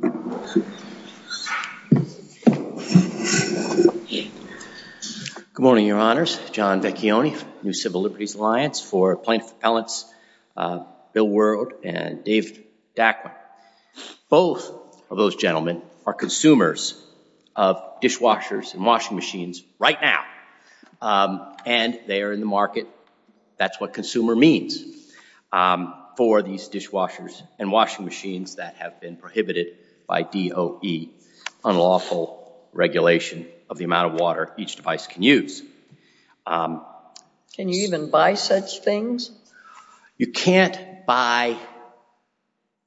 Good morning, your honors. John Vecchione, New Civil Liberties Alliance for Plaintiff Appellants, Bill Wuerld and Dave Dackman. Both of those gentlemen are consumers of dishwashers and washing machines right now. And they are in the market. That's what consumer means for these dishwashers and washing machines that have been prohibited by DOE, unlawful regulation of the amount of water each device can use. Can you even buy such things? You can't buy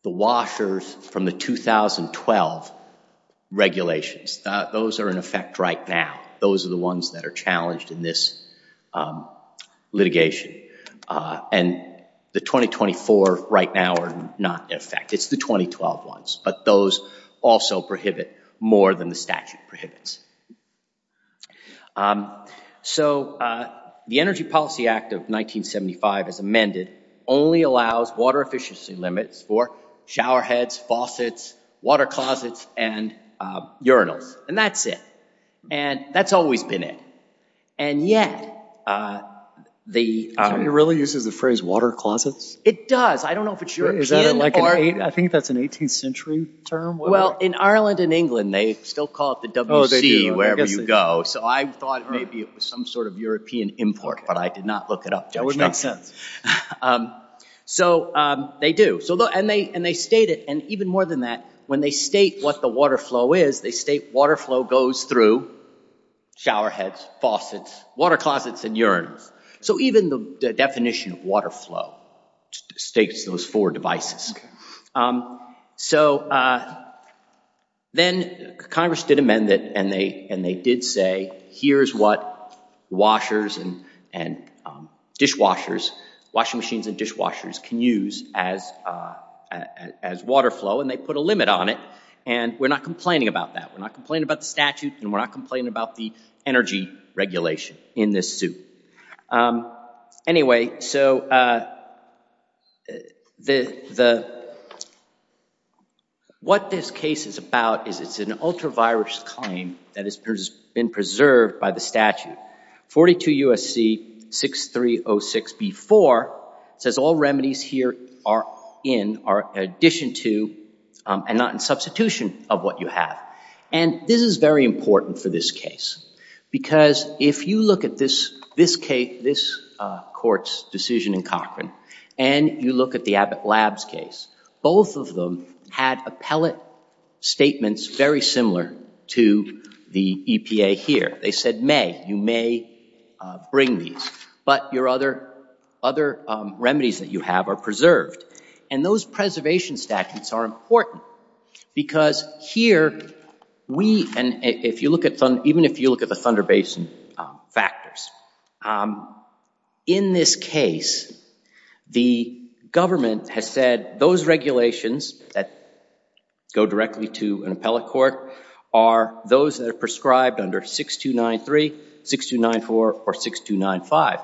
the washers from the 2012 regulations. Those are in effect right now. Those are the 2024 right now are not in effect. It's the 2012 ones. But those also prohibit more than the statute prohibits. So the Energy Policy Act of 1975 as amended only allows water efficiency limits for shower heads, faucets, water closets and urinals. And that's it. And that's always been it. And yet, the... It really uses the phrase water closets? It does. I don't know if it's European or... I think that's an 18th century term. Well, in Ireland and England, they still call it the WC wherever you go. So I thought maybe it was some sort of European import, but I did not look it up. That would make sense. So they do. And they state it. And even more than that, when they state what the water flow is, they state water flow goes through shower heads, faucets, water closets and urinals. So even the definition of water flow states those four devices. So then Congress did amend it and they did say here's what washers and dishwashers, washing machines and dishwashers can use as water flow. And they put a limit on it. And we're not complaining about that. We're not complaining about the statute and we're not complaining about the energy regulation in this suit. Anyway, so what this case is about is it's an ultra-virus claim that has been preserved by the statute. 42 U.S.C. 6306B4 says all remedies here are in addition to and not in substitution of what you have. And this is very important for this case. Because if you look at this court's decision in Cochrane and you look at the Abbott Labs case, both of them had appellate statements very similar to the EPA here. They said may, you may bring these. But your other remedies that you have are preserved. And those preservation statutes are important. Because here we and if you look at even if you look at the Thunder Basin factors, in this case, the government has said those regulations that go directly to an appellate court are those that are prescribed under 6293, 6294 or 6295.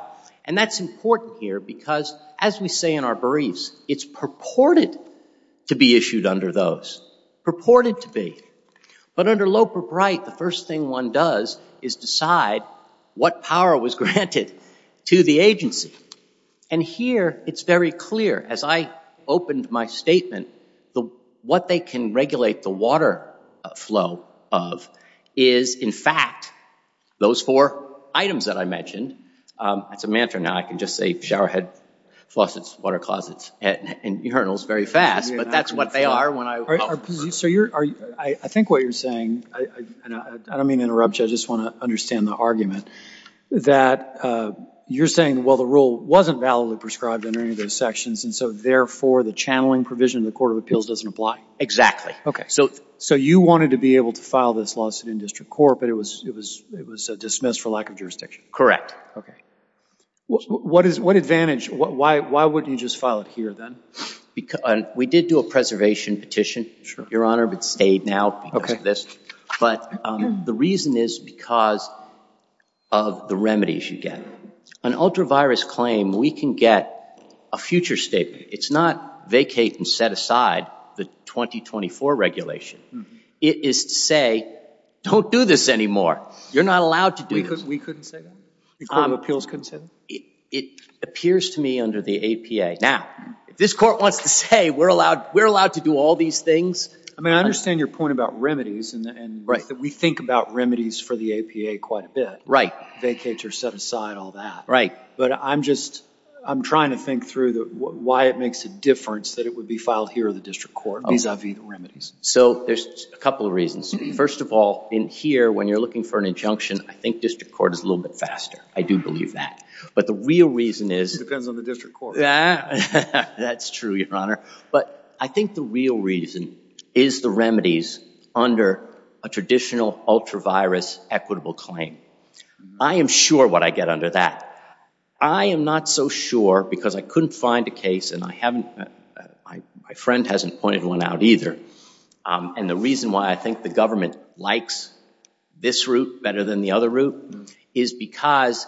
And that's important here because as we say in our briefs, it's purported to be issued under those. Purported to be. But under Loper-Bright, the first thing one does is decide what power was granted to the agency. And here it's very clear as I opened my statement, what they can regulate the water flow of is, in fact, those four items that I mentioned. That's a mantra now. I can just say showerhead, faucets, water closets, and urinals very fast. But that's what they are when I. So you're, I think what you're saying, and I don't mean to interrupt you, I just want to understand the argument, that you're saying, well, the rule wasn't validly prescribed under any of those sections and so therefore the channeling provision of the Court of Appeals doesn't apply. Exactly. Okay. So you wanted to be able to file this lawsuit in district court, but it was dismissed for lack of jurisdiction. Correct. Okay. What advantage, why wouldn't you just file it here then? We did do a preservation petition. Your Honor, it's stayed now because of this. But the reason is because of the remedies you get. An ultra-virus claim, we can get a future statement. It's not vacate and set aside the 2024 regulation. It is to say, don't do this anymore. You're not allowed to do this. We couldn't say that? The Court of Appeals couldn't say that? It appears to me under the APA. Now, if this court wants to say, we're allowed to do all these things. I mean, I understand your point about remedies and that we think about remedies for the APA quite a bit. Vacate or set aside, all that. But I'm just, I'm trying to think through why it makes a difference that it would be filed here in the district court vis-a-vis the remedies. So there's a couple of reasons. First of all, in here, when you're looking for an injunction, I think district court is a little bit faster. I do believe that. But the real reason is It depends on the district court. That's true, Your Honor. But I think the real reason is the remedies under a traditional ultra-virus equitable claim. I am sure what I get under that. I am not so sure because I couldn't find a case and I haven't, my friend hasn't pointed one out either. And the reason why I think the government likes this route better than the other route is because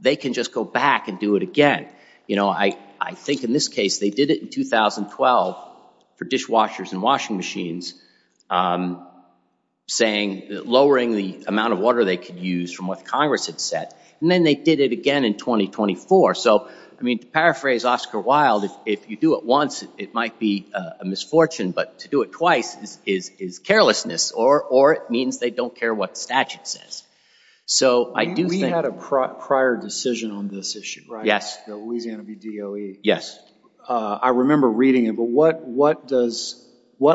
they can just go back and do it again. You know, I think in this case, they did it in 2012 for dishwashers and washing machines saying lowering the amount of water they could use from what Congress had set. And then they did it again in 2024. So, I mean, to paraphrase Oscar Wilde, if you do it once, it might be a misfortune. But to do it twice is carelessness or it means they don't care what statute says. So I do think We had a prior decision on this issue, right? Yes. The Louisiana v. DOE. Yes. I remember reading it. But what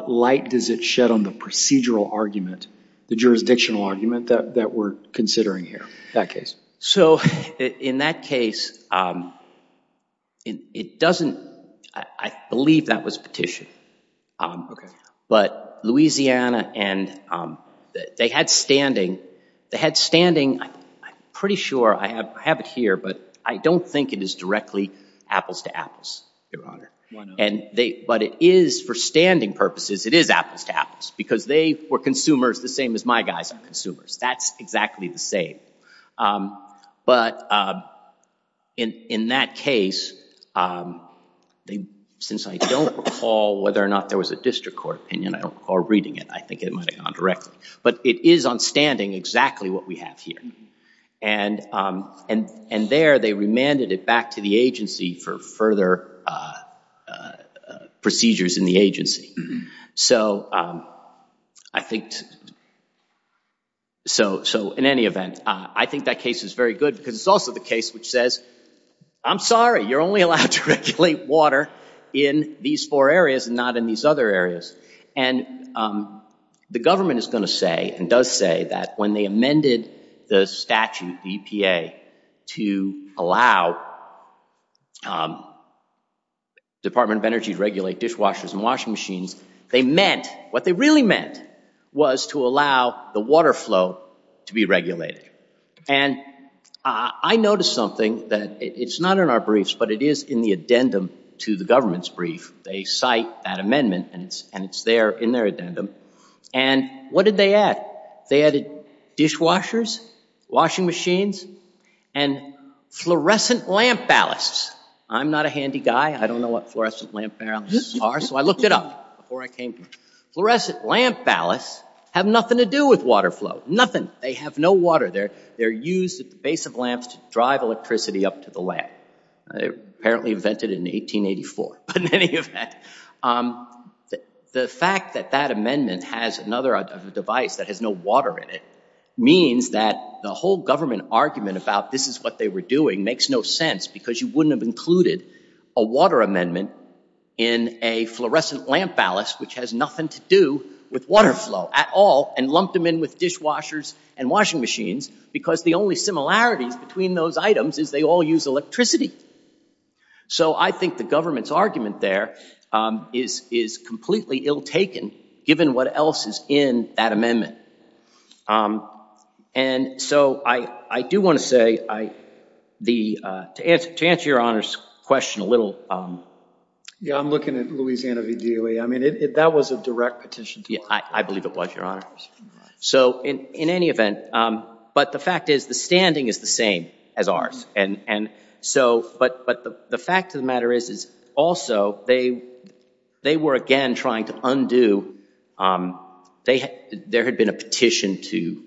light does it shed on the procedural argument, the jurisdictional argument that we're considering here, that case? So in that case, it doesn't, I believe that was petitioned. But Louisiana and they had standing, they had standing, I'm pretty sure I have it here, but I don't think it is directly apples to apples, Your Honor. But it is for standing purposes, it is apples to apples because they were consumers the same as my guys are consumers. That's exactly the same. But in that case, since I don't recall whether or not there was a district court opinion, I don't recall reading it, I think it might have gone directly. But it is on standing exactly what we have here. And there they remanded it back to the agency for further procedures in the agency. So I think, so in any event, I think that case is very good because it's also the case which says, I'm sorry, you're only allowed to regulate water in these four areas and not in these other areas. And the government is going to say and does say that when they amended the statute, EPA, to allow Department of Energy to regulate dishwashers and washing machines, they meant what they really meant was to allow the water flow to be regulated. And I noticed something that it's not in our briefs, but it is in the addendum to the government's brief. They cite that amendment and it's there in their addendum. And what did they add? They added dishwashers, washing machines, and fluorescent lamp ballasts. I'm not a handy guy. I don't know what fluorescent lamp ballasts are. So I looked it up before I came here. Fluorescent lamp ballasts have nothing to do with water flow. Nothing. They have no water. They're used at the base of lamps to drive electricity up to the lamp. They apparently invented it in 1884. But in any event, the fact that that amendment has another device that has no water in it means that the whole government argument about this is what they were doing makes no sense because you wouldn't have included a water amendment in a fluorescent lamp ballast which has nothing to do with water flow at all and lumped them in with dishwashers and washing machines because the only similarities between those items is they all use electricity. So I think the government's argument there is completely ill taken given what else is in that amendment. And so I do want to say, to answer your Honor's question a little. Yeah, I'm looking at Louisiana v. DOE. I mean, that was a direct petition. I believe it was, Your Honor. So in any event, but the fact is the standing is the same as ours. But the fact of the matter is also they were again trying to undo, they were trying to undo, there had been a petition to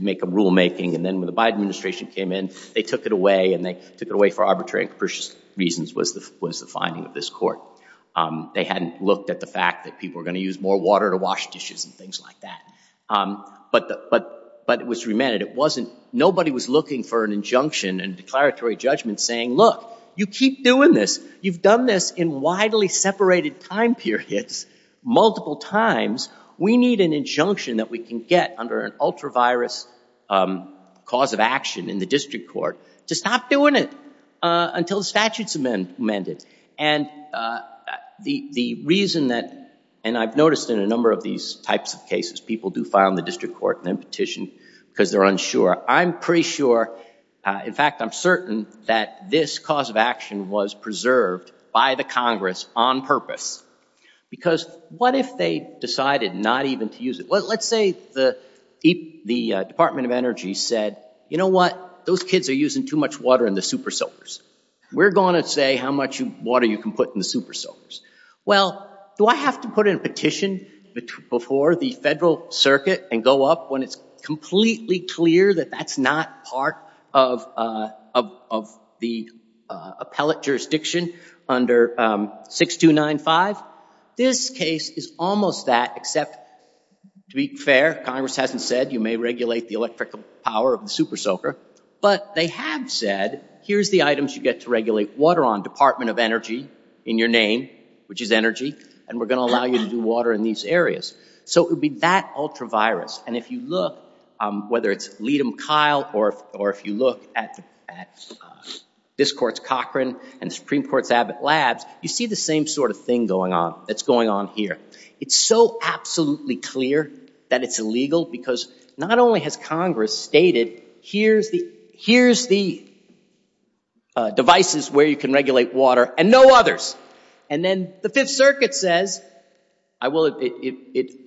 make a rulemaking and then when the Biden administration came in, they took it away and they took it away for arbitrary and capricious reasons was the finding of this court. They hadn't looked at the fact that people were going to use more water to wash dishes and things like that. But it was remanded. It wasn't, nobody was looking for an injunction and declaratory judgment saying, look, you keep doing this. You've done this in widely separated time periods, multiple times. We need an injunction that we can get under an ultra-virus cause of action in the district court to stop doing it until the statute's amended. And the reason that, and I've noticed in a number of these types of cases, people do file in the district court and then petition because they're unsure. I'm pretty sure, in fact, I'm certain that this cause of action was preserved by the Congress on purpose because what if they decided not even to use it? Well, let's say the Department of Energy said, you know what? Those kids are using too much water in the super soakers. We're going to say how much water you can put in the super soakers. Well, do I have to put in a petition before the federal circuit and go up when it's completely clear that that's not part of the appellate jurisdiction under 6295? This case is almost that except to be fair, Congress hasn't said you may regulate the electrical power of the super soaker, but they have said, here's the items you get to regulate water on, Department of Energy in your name, which is energy, and we're going to allow you to do water in these areas. So it would be that ultra virus, and if you look, whether it's lead them Kyle or if you look at this court's Cochran and Supreme Court's Abbott Labs, you see the same sort of thing going on that's going on here. It's so absolutely clear that it's illegal because not only has Congress stated, here's the devices where you can regulate water and no others, and the Fifth Circuit says, the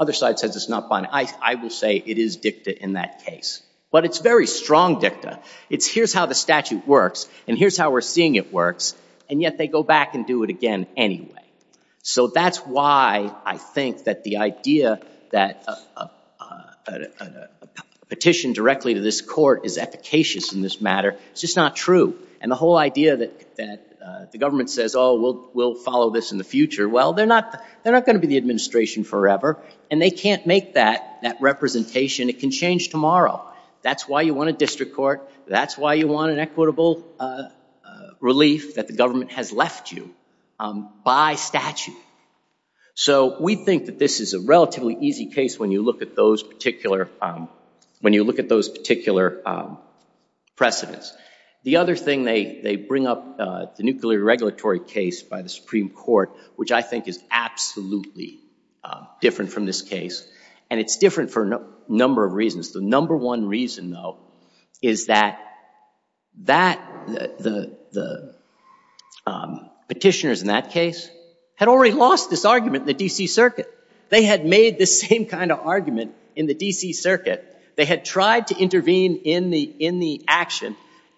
other side says it's not binding. I will say it is dicta in that case. But it's very strong dicta. It's here's how the statute works and here's how we're seeing it works, and yet they go back and do it again anyway. So that's why I think that the idea that a petition directly to this court is efficacious in this matter is just not true, and the whole idea that the government says, oh, we'll follow this in the future, well, they're not going to be the administration forever, and they can't make that representation. It can change tomorrow. That's why you want a district court. That's why you want an equitable relief that the government has left you by statute. So we think that this is a relatively easy case when you look at those particular precedents. The other thing they bring up, the nuclear regulatory case by the Supreme Court, which I think is absolutely different from this case, and it's different for a number of reasons. The number one reason, though, is that the petitioners in that case had already lost this argument in the D.C. Circuit. They had made this same kind of argument in the D.C. election,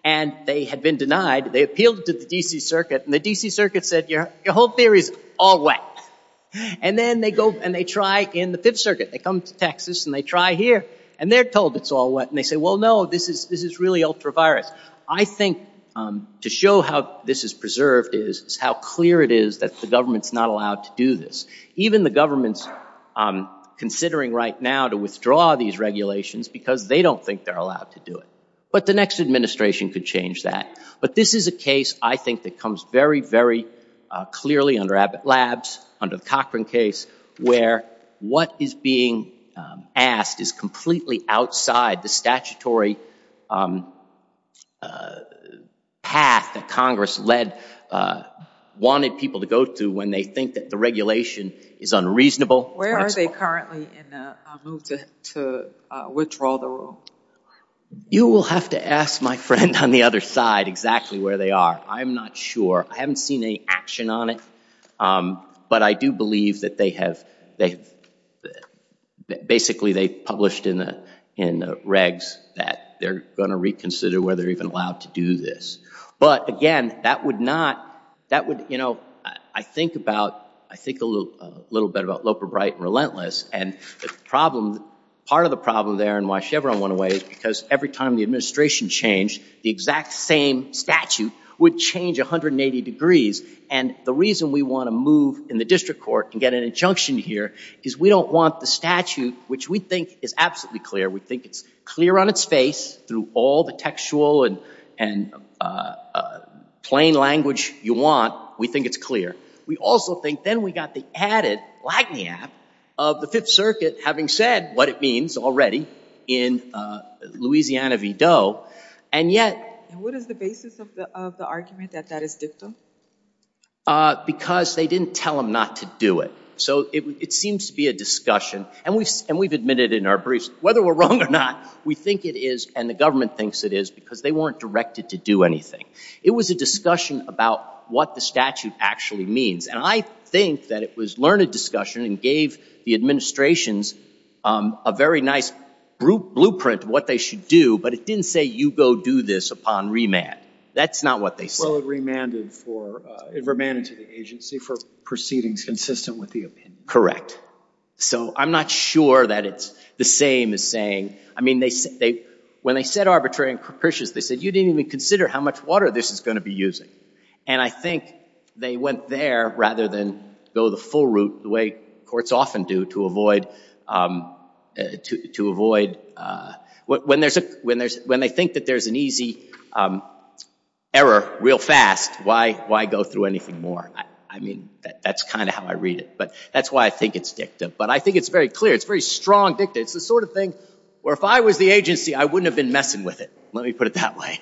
and they had been denied. They appealed it to the D.C. Circuit, and the D.C. Circuit said your whole theory is all wet. And then they go and they try in the Fifth Circuit. They come to Texas, and they try here, and they're told it's all wet, and they say, well, no, this is really ultra-virus. I think to show how this is preserved is how clear it is that the government's not allowed to do this. Even the government's considering right now to withdraw these regulations because they don't think they're allowed to do it. But the next administration could change that. But this is a case, I think, that comes very, very clearly under Abbott Labs, under the Cochran case, where what is being asked is completely outside the statutory path that Congress wanted people to go to when they think that the regulation is unreasonable. Where are they currently in the move to withdraw the rule? You will have to ask my friend on the other side exactly where they are. I'm not sure. I haven't seen any action on it. But I do believe that they have basically published in the regs that they're going to reconsider whether they're even allowed to do this. But again, that would not, that would, you know, I think about, I think a little bit about the book, The Right and Relentless. And the problem, part of the problem there and why Chevron went away is because every time the administration changed, the exact same statute would change 180 degrees. And the reason we want to move in the district court and get an injunction here is we don't want the statute, which we think is absolutely clear, we think it's clear on its face through all the textual and plain language you want, we think it's clear. The Fifth Circuit, having said what it means already in Louisiana v. Doe, and yet... And what is the basis of the argument that that is dictum? Because they didn't tell them not to do it. So it seems to be a discussion. And we've admitted in our briefs, whether we're wrong or not, we think it is, and the government thinks it is, because they weren't directed to do anything. It was a discussion about what the statute actually means. And I think that it was learned discussion and gave the administrations a very nice blueprint of what they should do, but it didn't say, you go do this upon remand. That's not what they said. Well, it remanded for... It remanded to the agency for proceedings consistent with the Correct. So I'm not sure that it's the same as saying... I mean, when they said arbitrary and capricious, they said, you didn't even consider how much water this is going to be using. And I think they went there rather than go the full route, the way courts often do to avoid... When they think that there's an easy error real fast, why go through anything more? I mean, that's kind of how I read it, but that's why I think it's dictum. But I think it's very clear. It's very strong dictum. It's the sort of thing where if I was the agency, I wouldn't have been messing with it. Let me put it that way.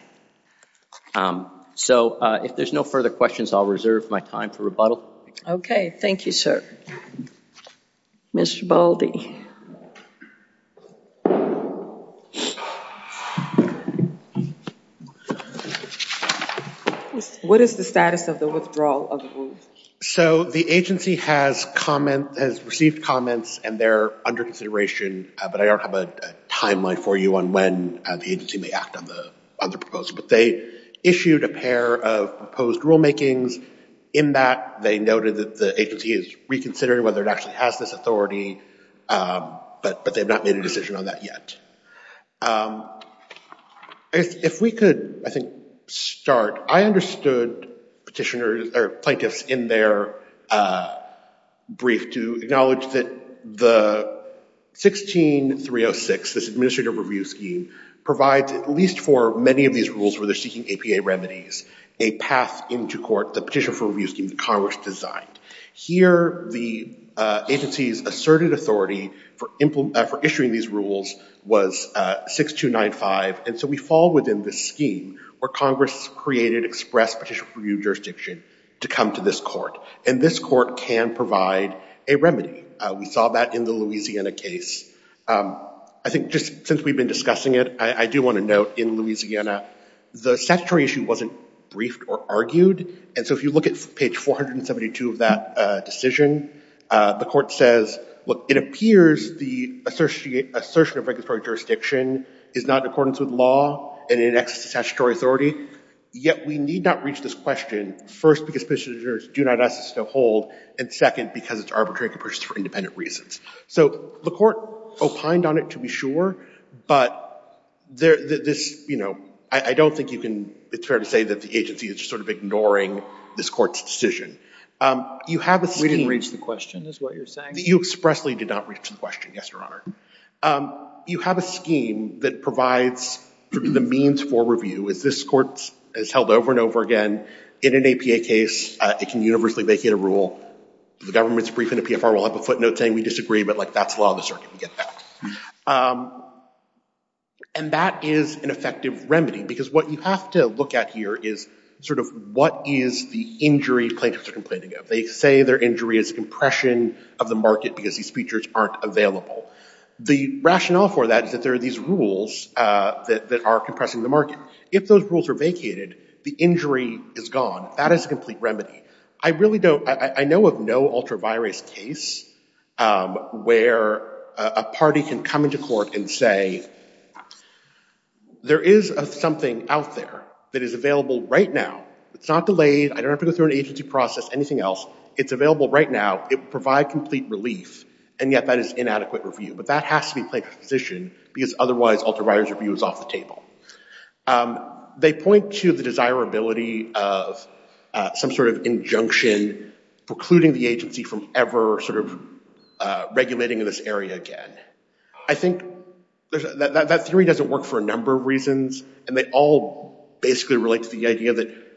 So if there's no further questions, I'll reserve my time for rebuttal. Okay. Thank you, sir. Mr. Baldi. What is the status of the withdrawal of the rules? So the agency has received comments and they're under consideration, but I don't have a timeline for you on when the agency may act on the proposal. But they issued a pair of proposed rule makings. In that, they noted that the agency is reconsidering whether it actually has this authority, but they've not made a decision on that yet. If we could, I think, start... I understood petitioners or plaintiffs in their brief to say that the 16-306, this administrative review scheme, provides, at least for many of these rules where they're seeking APA remedies, a path into court, the petition for review scheme that Congress designed. Here, the agency's asserted authority for issuing these rules was 6295, and so we fall within this scheme where Congress created express petition for review jurisdiction to come to this court, and this court can provide a remedy. We saw that in the Louisiana case. I think just since we've been discussing it, I do want to note in Louisiana, the statutory issue wasn't briefed or argued, and so if you look at page 472 of that decision, the court says, look, it appears the assertion of regulatory jurisdiction is not in accordance with law and in excess of statutory authority, yet we need not reach this question, first, because petitioners do not ask us to hold, and second, because it's arbitrary to purchase for independent reasons. So the court opined on it, to be sure, but this... I don't think you can... It's fair to say that the agency is just sort of ignoring this court's decision. You have a scheme... We didn't reach the question, is what you're saying? You expressly did not reach the question, yes, Your Honor. You have a scheme that provides the means for review, as this court has held over and over again. In an APA case, it can universally vacate a rule. The government's briefing the PFR will have a footnote saying we disagree, but that's the law of the circuit. We get that. And that is an effective remedy, because what you have to look at here is sort of what is the injury plaintiffs are complaining of? They say their injury is compression of the market, because these features aren't available. The rationale for that is that there are these rules that are compressing the market. If those rules are vacated, the injury is gone. That is a complete remedy. I really don't... I know of no ultra-virus case where a party can come into court and say, there is something out there that is available right now. It's not delayed. I don't have to go through an agency process, anything else. It's available right now. It would provide complete relief, and yet that is inadequate review. But that has to be placed in position, because otherwise ultra-virus review is off the table. They point to the desirability of some sort of injunction precluding the agency from ever sort of regulating in this area again. I think that theory doesn't work for a number of reasons, and they all basically relate to the idea that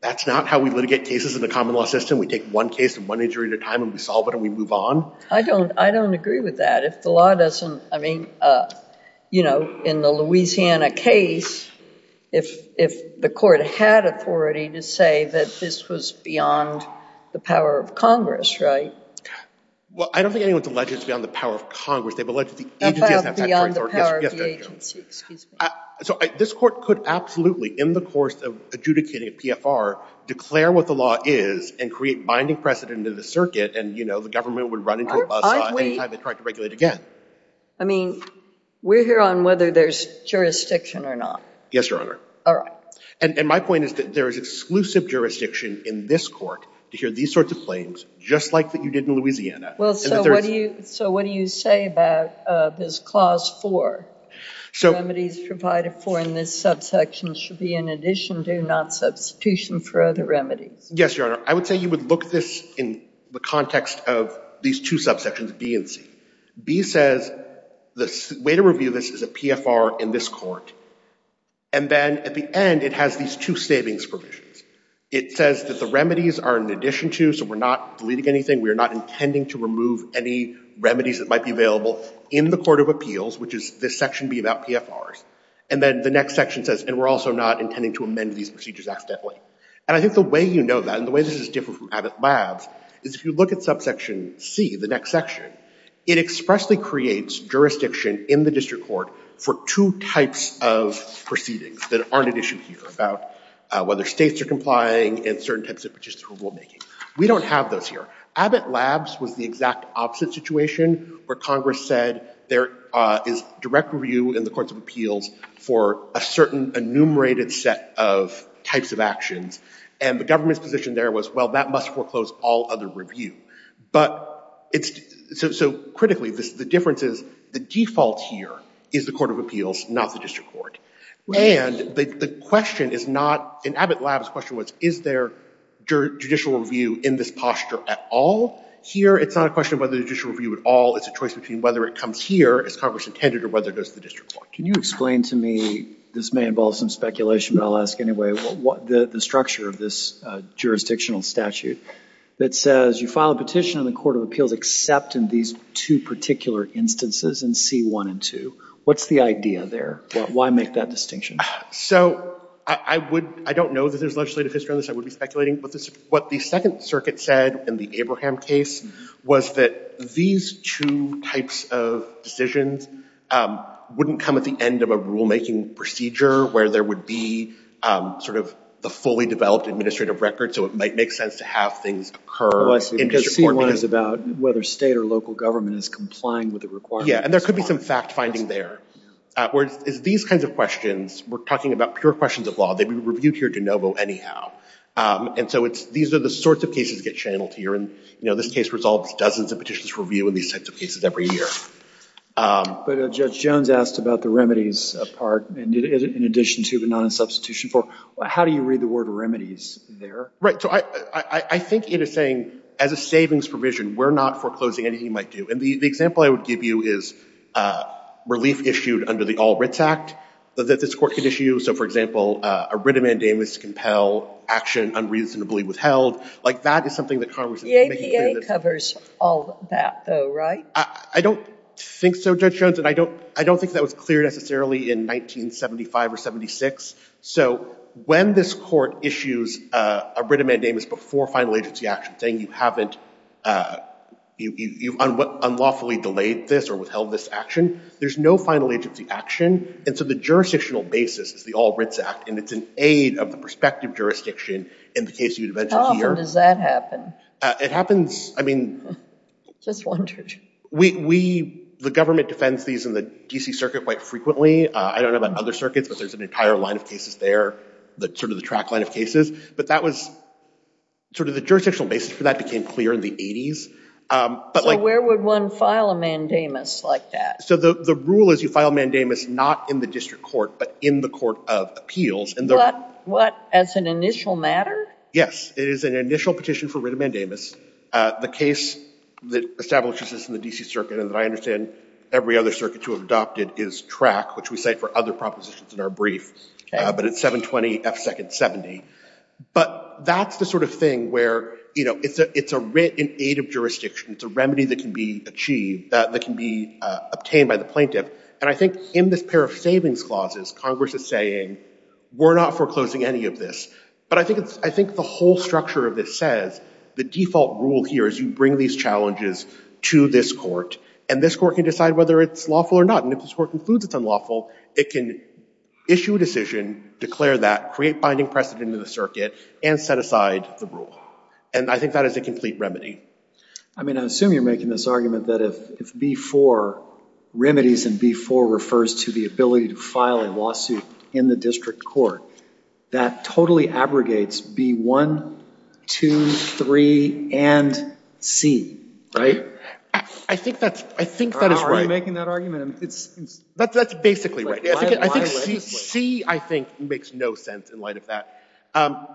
that's not how we litigate cases in the common law system. We take one case and one injury at a time, and we solve it, and we move on. I don't agree with that. If the law doesn't... I mean, in the Louisiana case, if the court had authority to say that this was beyond the power of Congress, right? Well, I don't think anyone's alleged it's beyond the power of Congress. They've alleged that the agency has that right. About beyond the power of the agency. Excuse me. This court could absolutely, in the course of adjudicating a PFR, declare what the law is and create binding precedent in the circuit, and the government would run into a buzzsaw any time they tried to regulate again. I mean, we're here on whether there's jurisdiction or not. Yes, Your Honor. My point is that there is exclusive jurisdiction in this court to hear these sorts of claims, just like you did in Louisiana. Well, so what do you say about this Clause 4, remedies provided for in this subsection should be in addition, do not substitution for other remedies? Yes, Your Honor. I would say you would look at this in the context of these two subsections, B and C. B says the way to review this is a PFR in this court, and then at the end, it has these two savings provisions. It says that the remedies are in addition to, so we're not deleting anything, we're not intending to remove any remedies that might be available in the Court of Appeals, which is this section being about PFRs. And then the next section says, and we're also not intending to amend these procedures accidentally. And I think the way you know that, and the way this is different from Abbott Labs, is if you look at subsection C, the next section, it expressly creates jurisdiction in the district court for two types of proceedings that aren't at issue here, about whether states are complying in certain types of participatory rulemaking. We don't have those here. Abbott Labs was the exact opposite situation, where Congress said there is direct review in the Courts of Appeals for a certain enumerated set of types of actions, and the government's position there was, well, that must foreclose all other review. But it's, so critically, the difference is the default here is the Court of Appeals, not the district court. And the question is not, in Abbott Labs, the question was, is there judicial review in this posture at all? Here, it's not a question of whether judicial review at all. It's a choice between whether it comes here, as Congress intended, or whether it goes to the district court. Can you explain to me, this may involve some speculation, but I'll ask anyway, the structure of this jurisdictional statute that says you file a petition in the Court of Appeals except in these two particular instances in C1 and 2. What's the idea there? Why make that distinction? So I don't know that there's legislative history on this. I would be speculating. But what the Second Circuit said in the Abraham case was that these two types of decisions wouldn't come at the end of a rulemaking procedure, where there would be sort of the fully developed administrative record, so it might make sense to have things occur in district court. Well, I see. Because C1 is about whether state or local government is complying with the requirements of C1. Yeah. And there could be some fact-finding there. Whereas these kinds of questions, we're talking about pure questions of law. They'd be reviewed here de novo anyhow. And so these are the sorts of cases that get channeled here. And this case resolves dozens of petitions for review in these types of cases every year. But Judge Jones asked about the remedies part, in addition to but not in substitution for. How do you read the word remedies there? Right. So I think it is saying, as a savings provision, we're not foreclosing anything we might do. And the example I would give you is relief issued under the All Writs Act that this court could issue. So for example, a writ of mandamus to compel action unreasonably withheld. That is something that Congress is making clear that's not true. The APA covers all of that, though, right? I don't think so, Judge Jones. And I don't think that was clear, necessarily, in 1975 or 76. So when this court issues a writ of mandamus before final agency action, saying you've unlawfully delayed this or withheld this action, there's no final agency action. And so the jurisdictional basis is the All Writs Act. And it's an aid of the prospective jurisdiction in the case you'd eventually hear. How often does that happen? It happens, I mean, the government defends these in the DC Circuit quite frequently. I don't know about other circuits, but there's an entire line of cases there, sort of the jurisdictional basis for that became clear in the 80s. So where would one file a mandamus like that? So the rule is you file a mandamus not in the district court, but in the Court of Appeals. What, as an initial matter? Yes, it is an initial petition for writ of mandamus. The case that establishes this in the DC Circuit, and that I understand every other circuit to have adopted, is Track, which we cite for other propositions in our brief. But it's 720 F. Second 70. But that's the sort of thing where it's a writ in aid of jurisdiction. It's a remedy that can be achieved, that can be obtained by the plaintiff. And I think in this pair of savings clauses, Congress is saying, we're not foreclosing any of this. But I think the whole structure of this says, the default rule here is you bring these challenges to this court, and this court can decide whether it's lawful or not. And if this court concludes it's unlawful, it can issue a decision, declare that, create binding precedent in the circuit, and set aside the rule. And I think that is a complete remedy. I mean, I assume you're making this argument that if B-4, remedies in B-4, refers to the ability to file a lawsuit in the district court, that totally abrogates B-1, 2, 3, and C, right? I think that is right. You're making that argument. That's basically right. I think C, I think, makes no sense in light of that.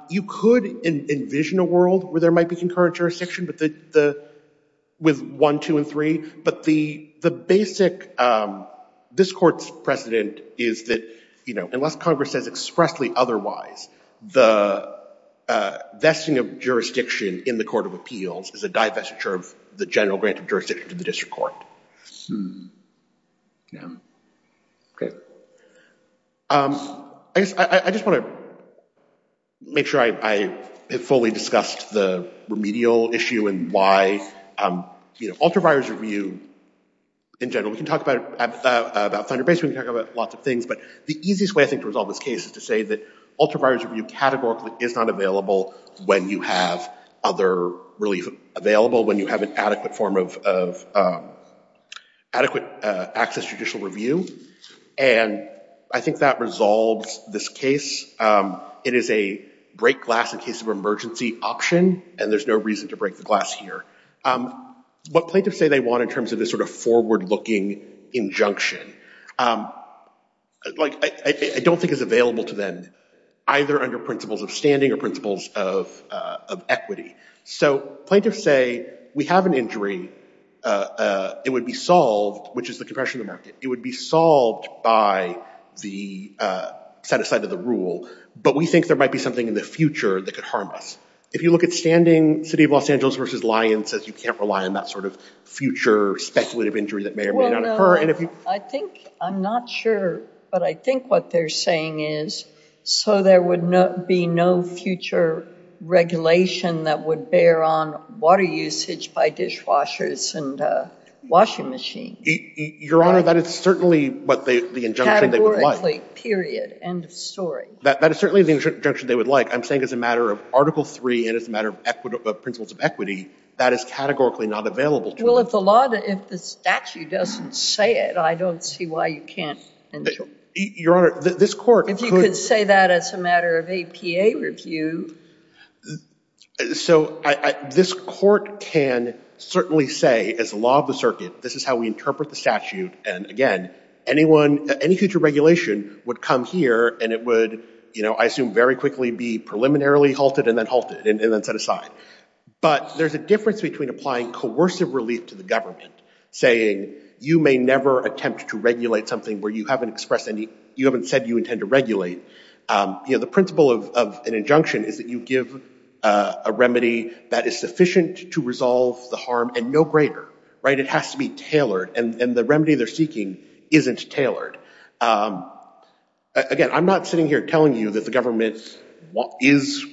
You could envision a world where there might be concurrent jurisdiction with 1, 2, and 3. But the basic this court's precedent is that unless Congress says expressly otherwise, the vesting of jurisdiction in the court of appeals is a divestiture of the general grant of jurisdiction to the district court. Hmm. Yeah. OK. I just want to make sure I have fully discussed the remedial issue and why, you know, ultraviolence review, in general, we can talk about ThunderBase, we can talk about lots of things, but the easiest way, I think, to resolve this case is to say that ultraviolence review categorically is not available when you have other relief available, when you have an adequate form of adequate access to judicial review. And I think that resolves this case. It is a break glass in case of emergency option, and there's no reason to break the glass here. What plaintiffs say they want in terms of this sort of forward-looking injunction, like, I don't think it's available to them, either under principles of standing or principles of equity. So plaintiffs say, we have an injury. It would be solved, which is the compression of the market. It would be solved by the set aside of the rule, but we think there might be something in the future that could harm us. If you look at standing, City of Los Angeles versus Lyons says you can't rely on that sort of future speculative injury that may or may not occur. I think, I'm not sure, but I think what they're saying is, so there would be no future regulation that would bear on water usage by dishwashers and washing machines. Your Honor, that is certainly what the injunction they would like. Categorically, period. End of story. That is certainly the injunction they would like. I'm saying as a matter of Article III and as a matter of principles of equity, that is categorically not available to them. Well, if the statute doesn't say it, I don't see why you can't ensure. Your Honor, this court could- If you could say that as a matter of APA review. So this court can certainly say, as the law of the circuit, this is how we interpret the statute, and again, any future regulation would come here and it would, I assume, very quickly be preliminarily halted and then halted and then set aside. But there's a difference between applying coercive relief to the government, saying, you may never attempt to regulate something where you haven't expressed any, you haven't said you intend to regulate. The principle of an injunction is that you give a remedy that is sufficient to resolve the harm and no greater. It has to be tailored, and the remedy they're seeking isn't tailored. Again, I'm not sitting here telling you that the government is,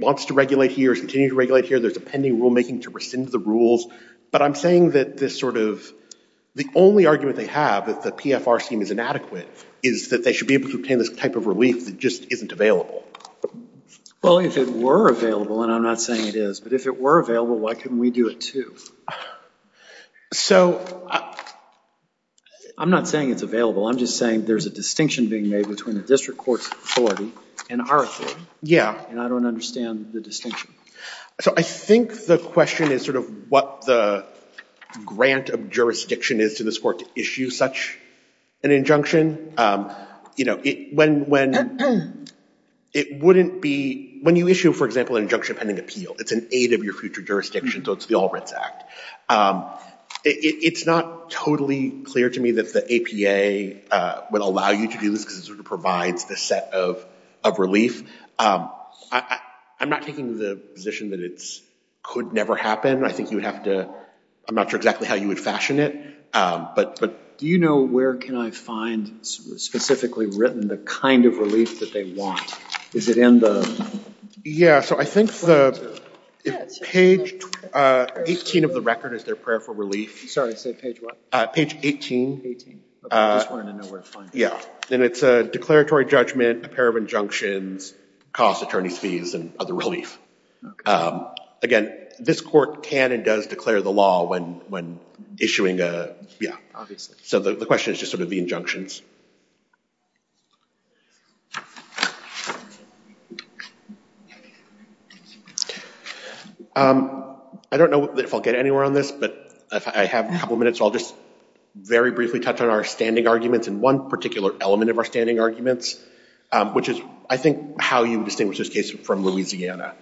wants to regulate here, is continuing to regulate here, there's a pending rulemaking to rescind the rules, but I'm saying that this sort of, the only argument they have that the PFR scheme is inadequate is that they should be able to obtain this type of relief that just isn't available. Well, if it were available, and I'm not saying it is, but if it were available, why couldn't we do it too? So I'm not saying it's available. I'm just saying there's a distinction being made between the district court's authority and our authority. Yeah. And I don't understand the distinction. So I think the question is sort of what the grant of jurisdiction is to this court to issue such an injunction. When you issue, for example, an injunction pending appeal, it's an aid of your future jurisdiction, so it's the All Writs Act. It's not totally clear to me that the APA would allow you to do this, because it sort of provides this set of relief. I'm not taking the position that it could never happen. I think you would have to, I'm not sure exactly how you would fashion it, but... Do you know where can I find specifically written the kind of relief that they want? Is it in the... Yeah, so I think the, if page 18 of the record is their prayer for relief... Sorry, say page what? Page 18. Page 18, but I just wanted to know where to find it. Yeah, and it's a declaratory judgment, a pair of injunctions, cost attorney's fees, and other relief. Again, this court can and does declare the law when issuing a, yeah. Obviously. So the question is just sort of the injunctions. I don't know if I'll get anywhere on this, but if I have a couple minutes, I'll just very briefly touch on our standing arguments and one particular element of our standing arguments, which is I think how you distinguish this case from Louisiana.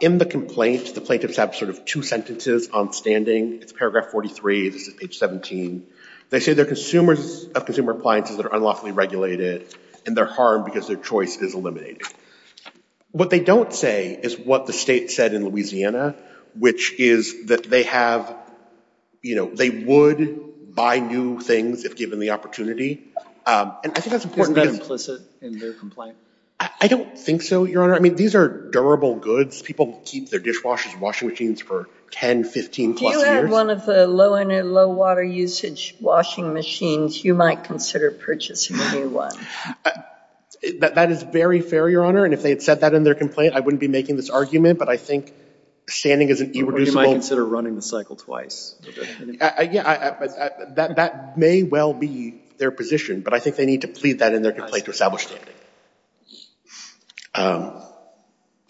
In the complaint, the plaintiffs have sort of two sentences on standing. It's paragraph 43, this is page 17. They say they're consumers of consumer appliances that are unlawfully regulated and they're harmed because their choice is eliminated. What they don't say is what the state said in Louisiana, which is that they have, you know, they would buy new things if given the opportunity. And I think that's important because... Isn't that implicit in their complaint? I don't think so, Your Honor. I mean, these are durable goods. People keep their dishwashers and washing machines for 10, 15 plus years. If you had one of the low water usage washing machines, you might consider purchasing a new one. That is very fair, Your Honor, and if they had said that in their complaint, I wouldn't be making this argument, but I think standing is an irreducible... You might consider running the cycle twice. Yeah, that may well be their position, but I think they need to plead that in their complaint to establish standing.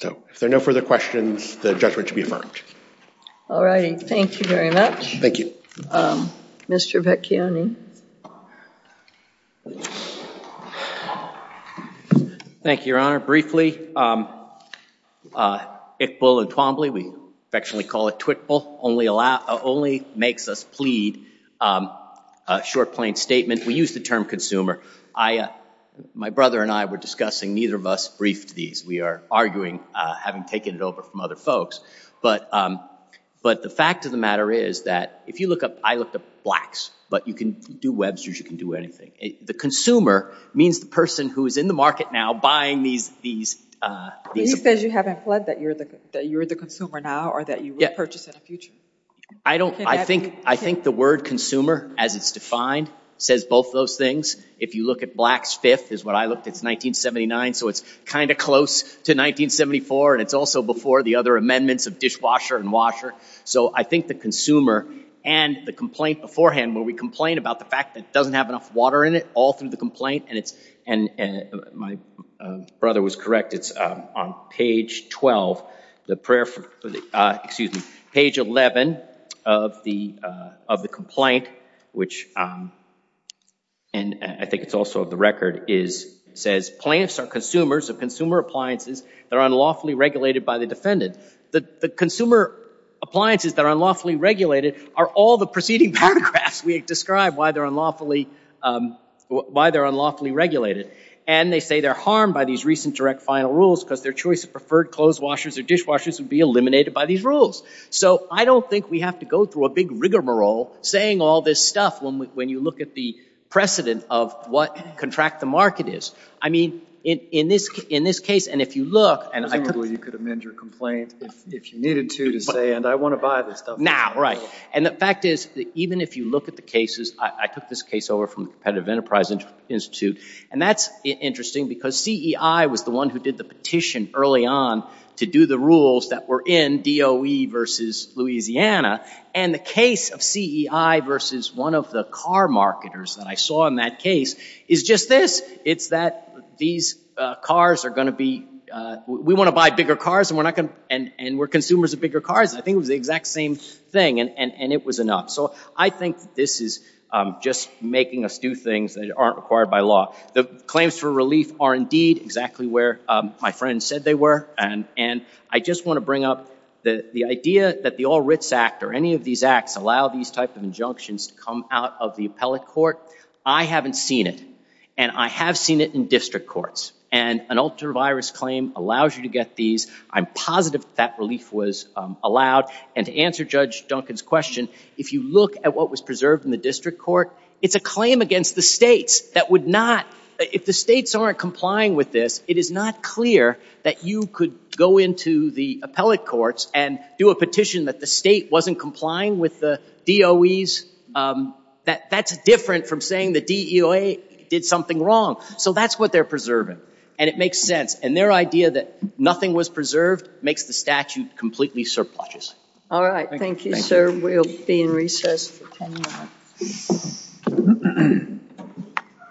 So if there are no further questions, the judgment should be affirmed. All righty. Thank you very much. Mr. Vecchione. Thank you, Your Honor. Briefly, Iqbal and Twombly, we affectionately call it Twickbal, only makes us plead a short, plain statement. We use the term consumer. My brother and I were discussing, neither of us briefed these. We are arguing, having taken it over from other folks, but the fact of the matter is that if you look up, I looked up Blacks, but you can do Websters, you can do anything. The consumer means the person who is in the market now buying these... He says you haven't pled that you're the consumer now or that you will purchase in the future. I think the word consumer, as it's defined, says both those things. If you look at Blacks Fifth is what I looked, it's 1979, so it's kind of close to 1974, and it's also before the other amendments of dishwasher and washer. So I think the consumer and the complaint beforehand, where we complain about the fact that it doesn't have enough water in it, all through the complaint, and my brother was correct, it's on page 12, excuse me, page 11 of the complaint, which, and I think it's also the record, says plaintiffs are consumers of consumer appliances that are unlawfully regulated by the defendant. The consumer appliances that are unlawfully regulated are all the preceding paragraphs we described why they're unlawfully regulated, and they say they're harmed by these recent direct final rules because their choice of preferred clothes washers or dishwashers would be eliminated by these rules. So I don't think we have to go through a big rigmarole saying all this stuff when you look at the precedent of what contract the market is. I mean, in this case, and if you look, and I could... Presumably you could amend your complaint if you needed to to say, and I want to buy this stuff. Now, right. And the fact is, even if you look at the cases, I took this case over from the Competitive Enterprise Institute, and that's interesting because CEI was the one who did the petition early on to do the rules that were in DOE versus Louisiana, and the case of CEI versus one of the car marketers that I saw in that case is just this. It's that these cars are going to be... We want to buy bigger cars, and we're consumers of bigger cars. I think it was the exact same thing, and it was enough. So I think this is just making us do things that aren't required by law. The claims for relief are indeed exactly where my friend said they were, and I just want to bring up the idea that the All Writs Act or any of these acts allow these type of injunctions to come out of the appellate court. I haven't seen it, and I have seen it in district courts, and an ultra-virus claim allows you to get these. I'm positive that relief was allowed, and to answer Judge Duncan's question, if you look at what was preserved in the district court, it's a claim against the states that would not... If the states aren't complying with this, it is not clear that you could go into the appellate courts and do a petition that the state wasn't complying with the DOEs. That's different from saying the DEOA did something wrong. So that's what they're preserving, and it makes sense. And their idea that nothing was preserved makes the statute completely surpluses. All right. Thank you, sir. We'll be in recess for 10 minutes.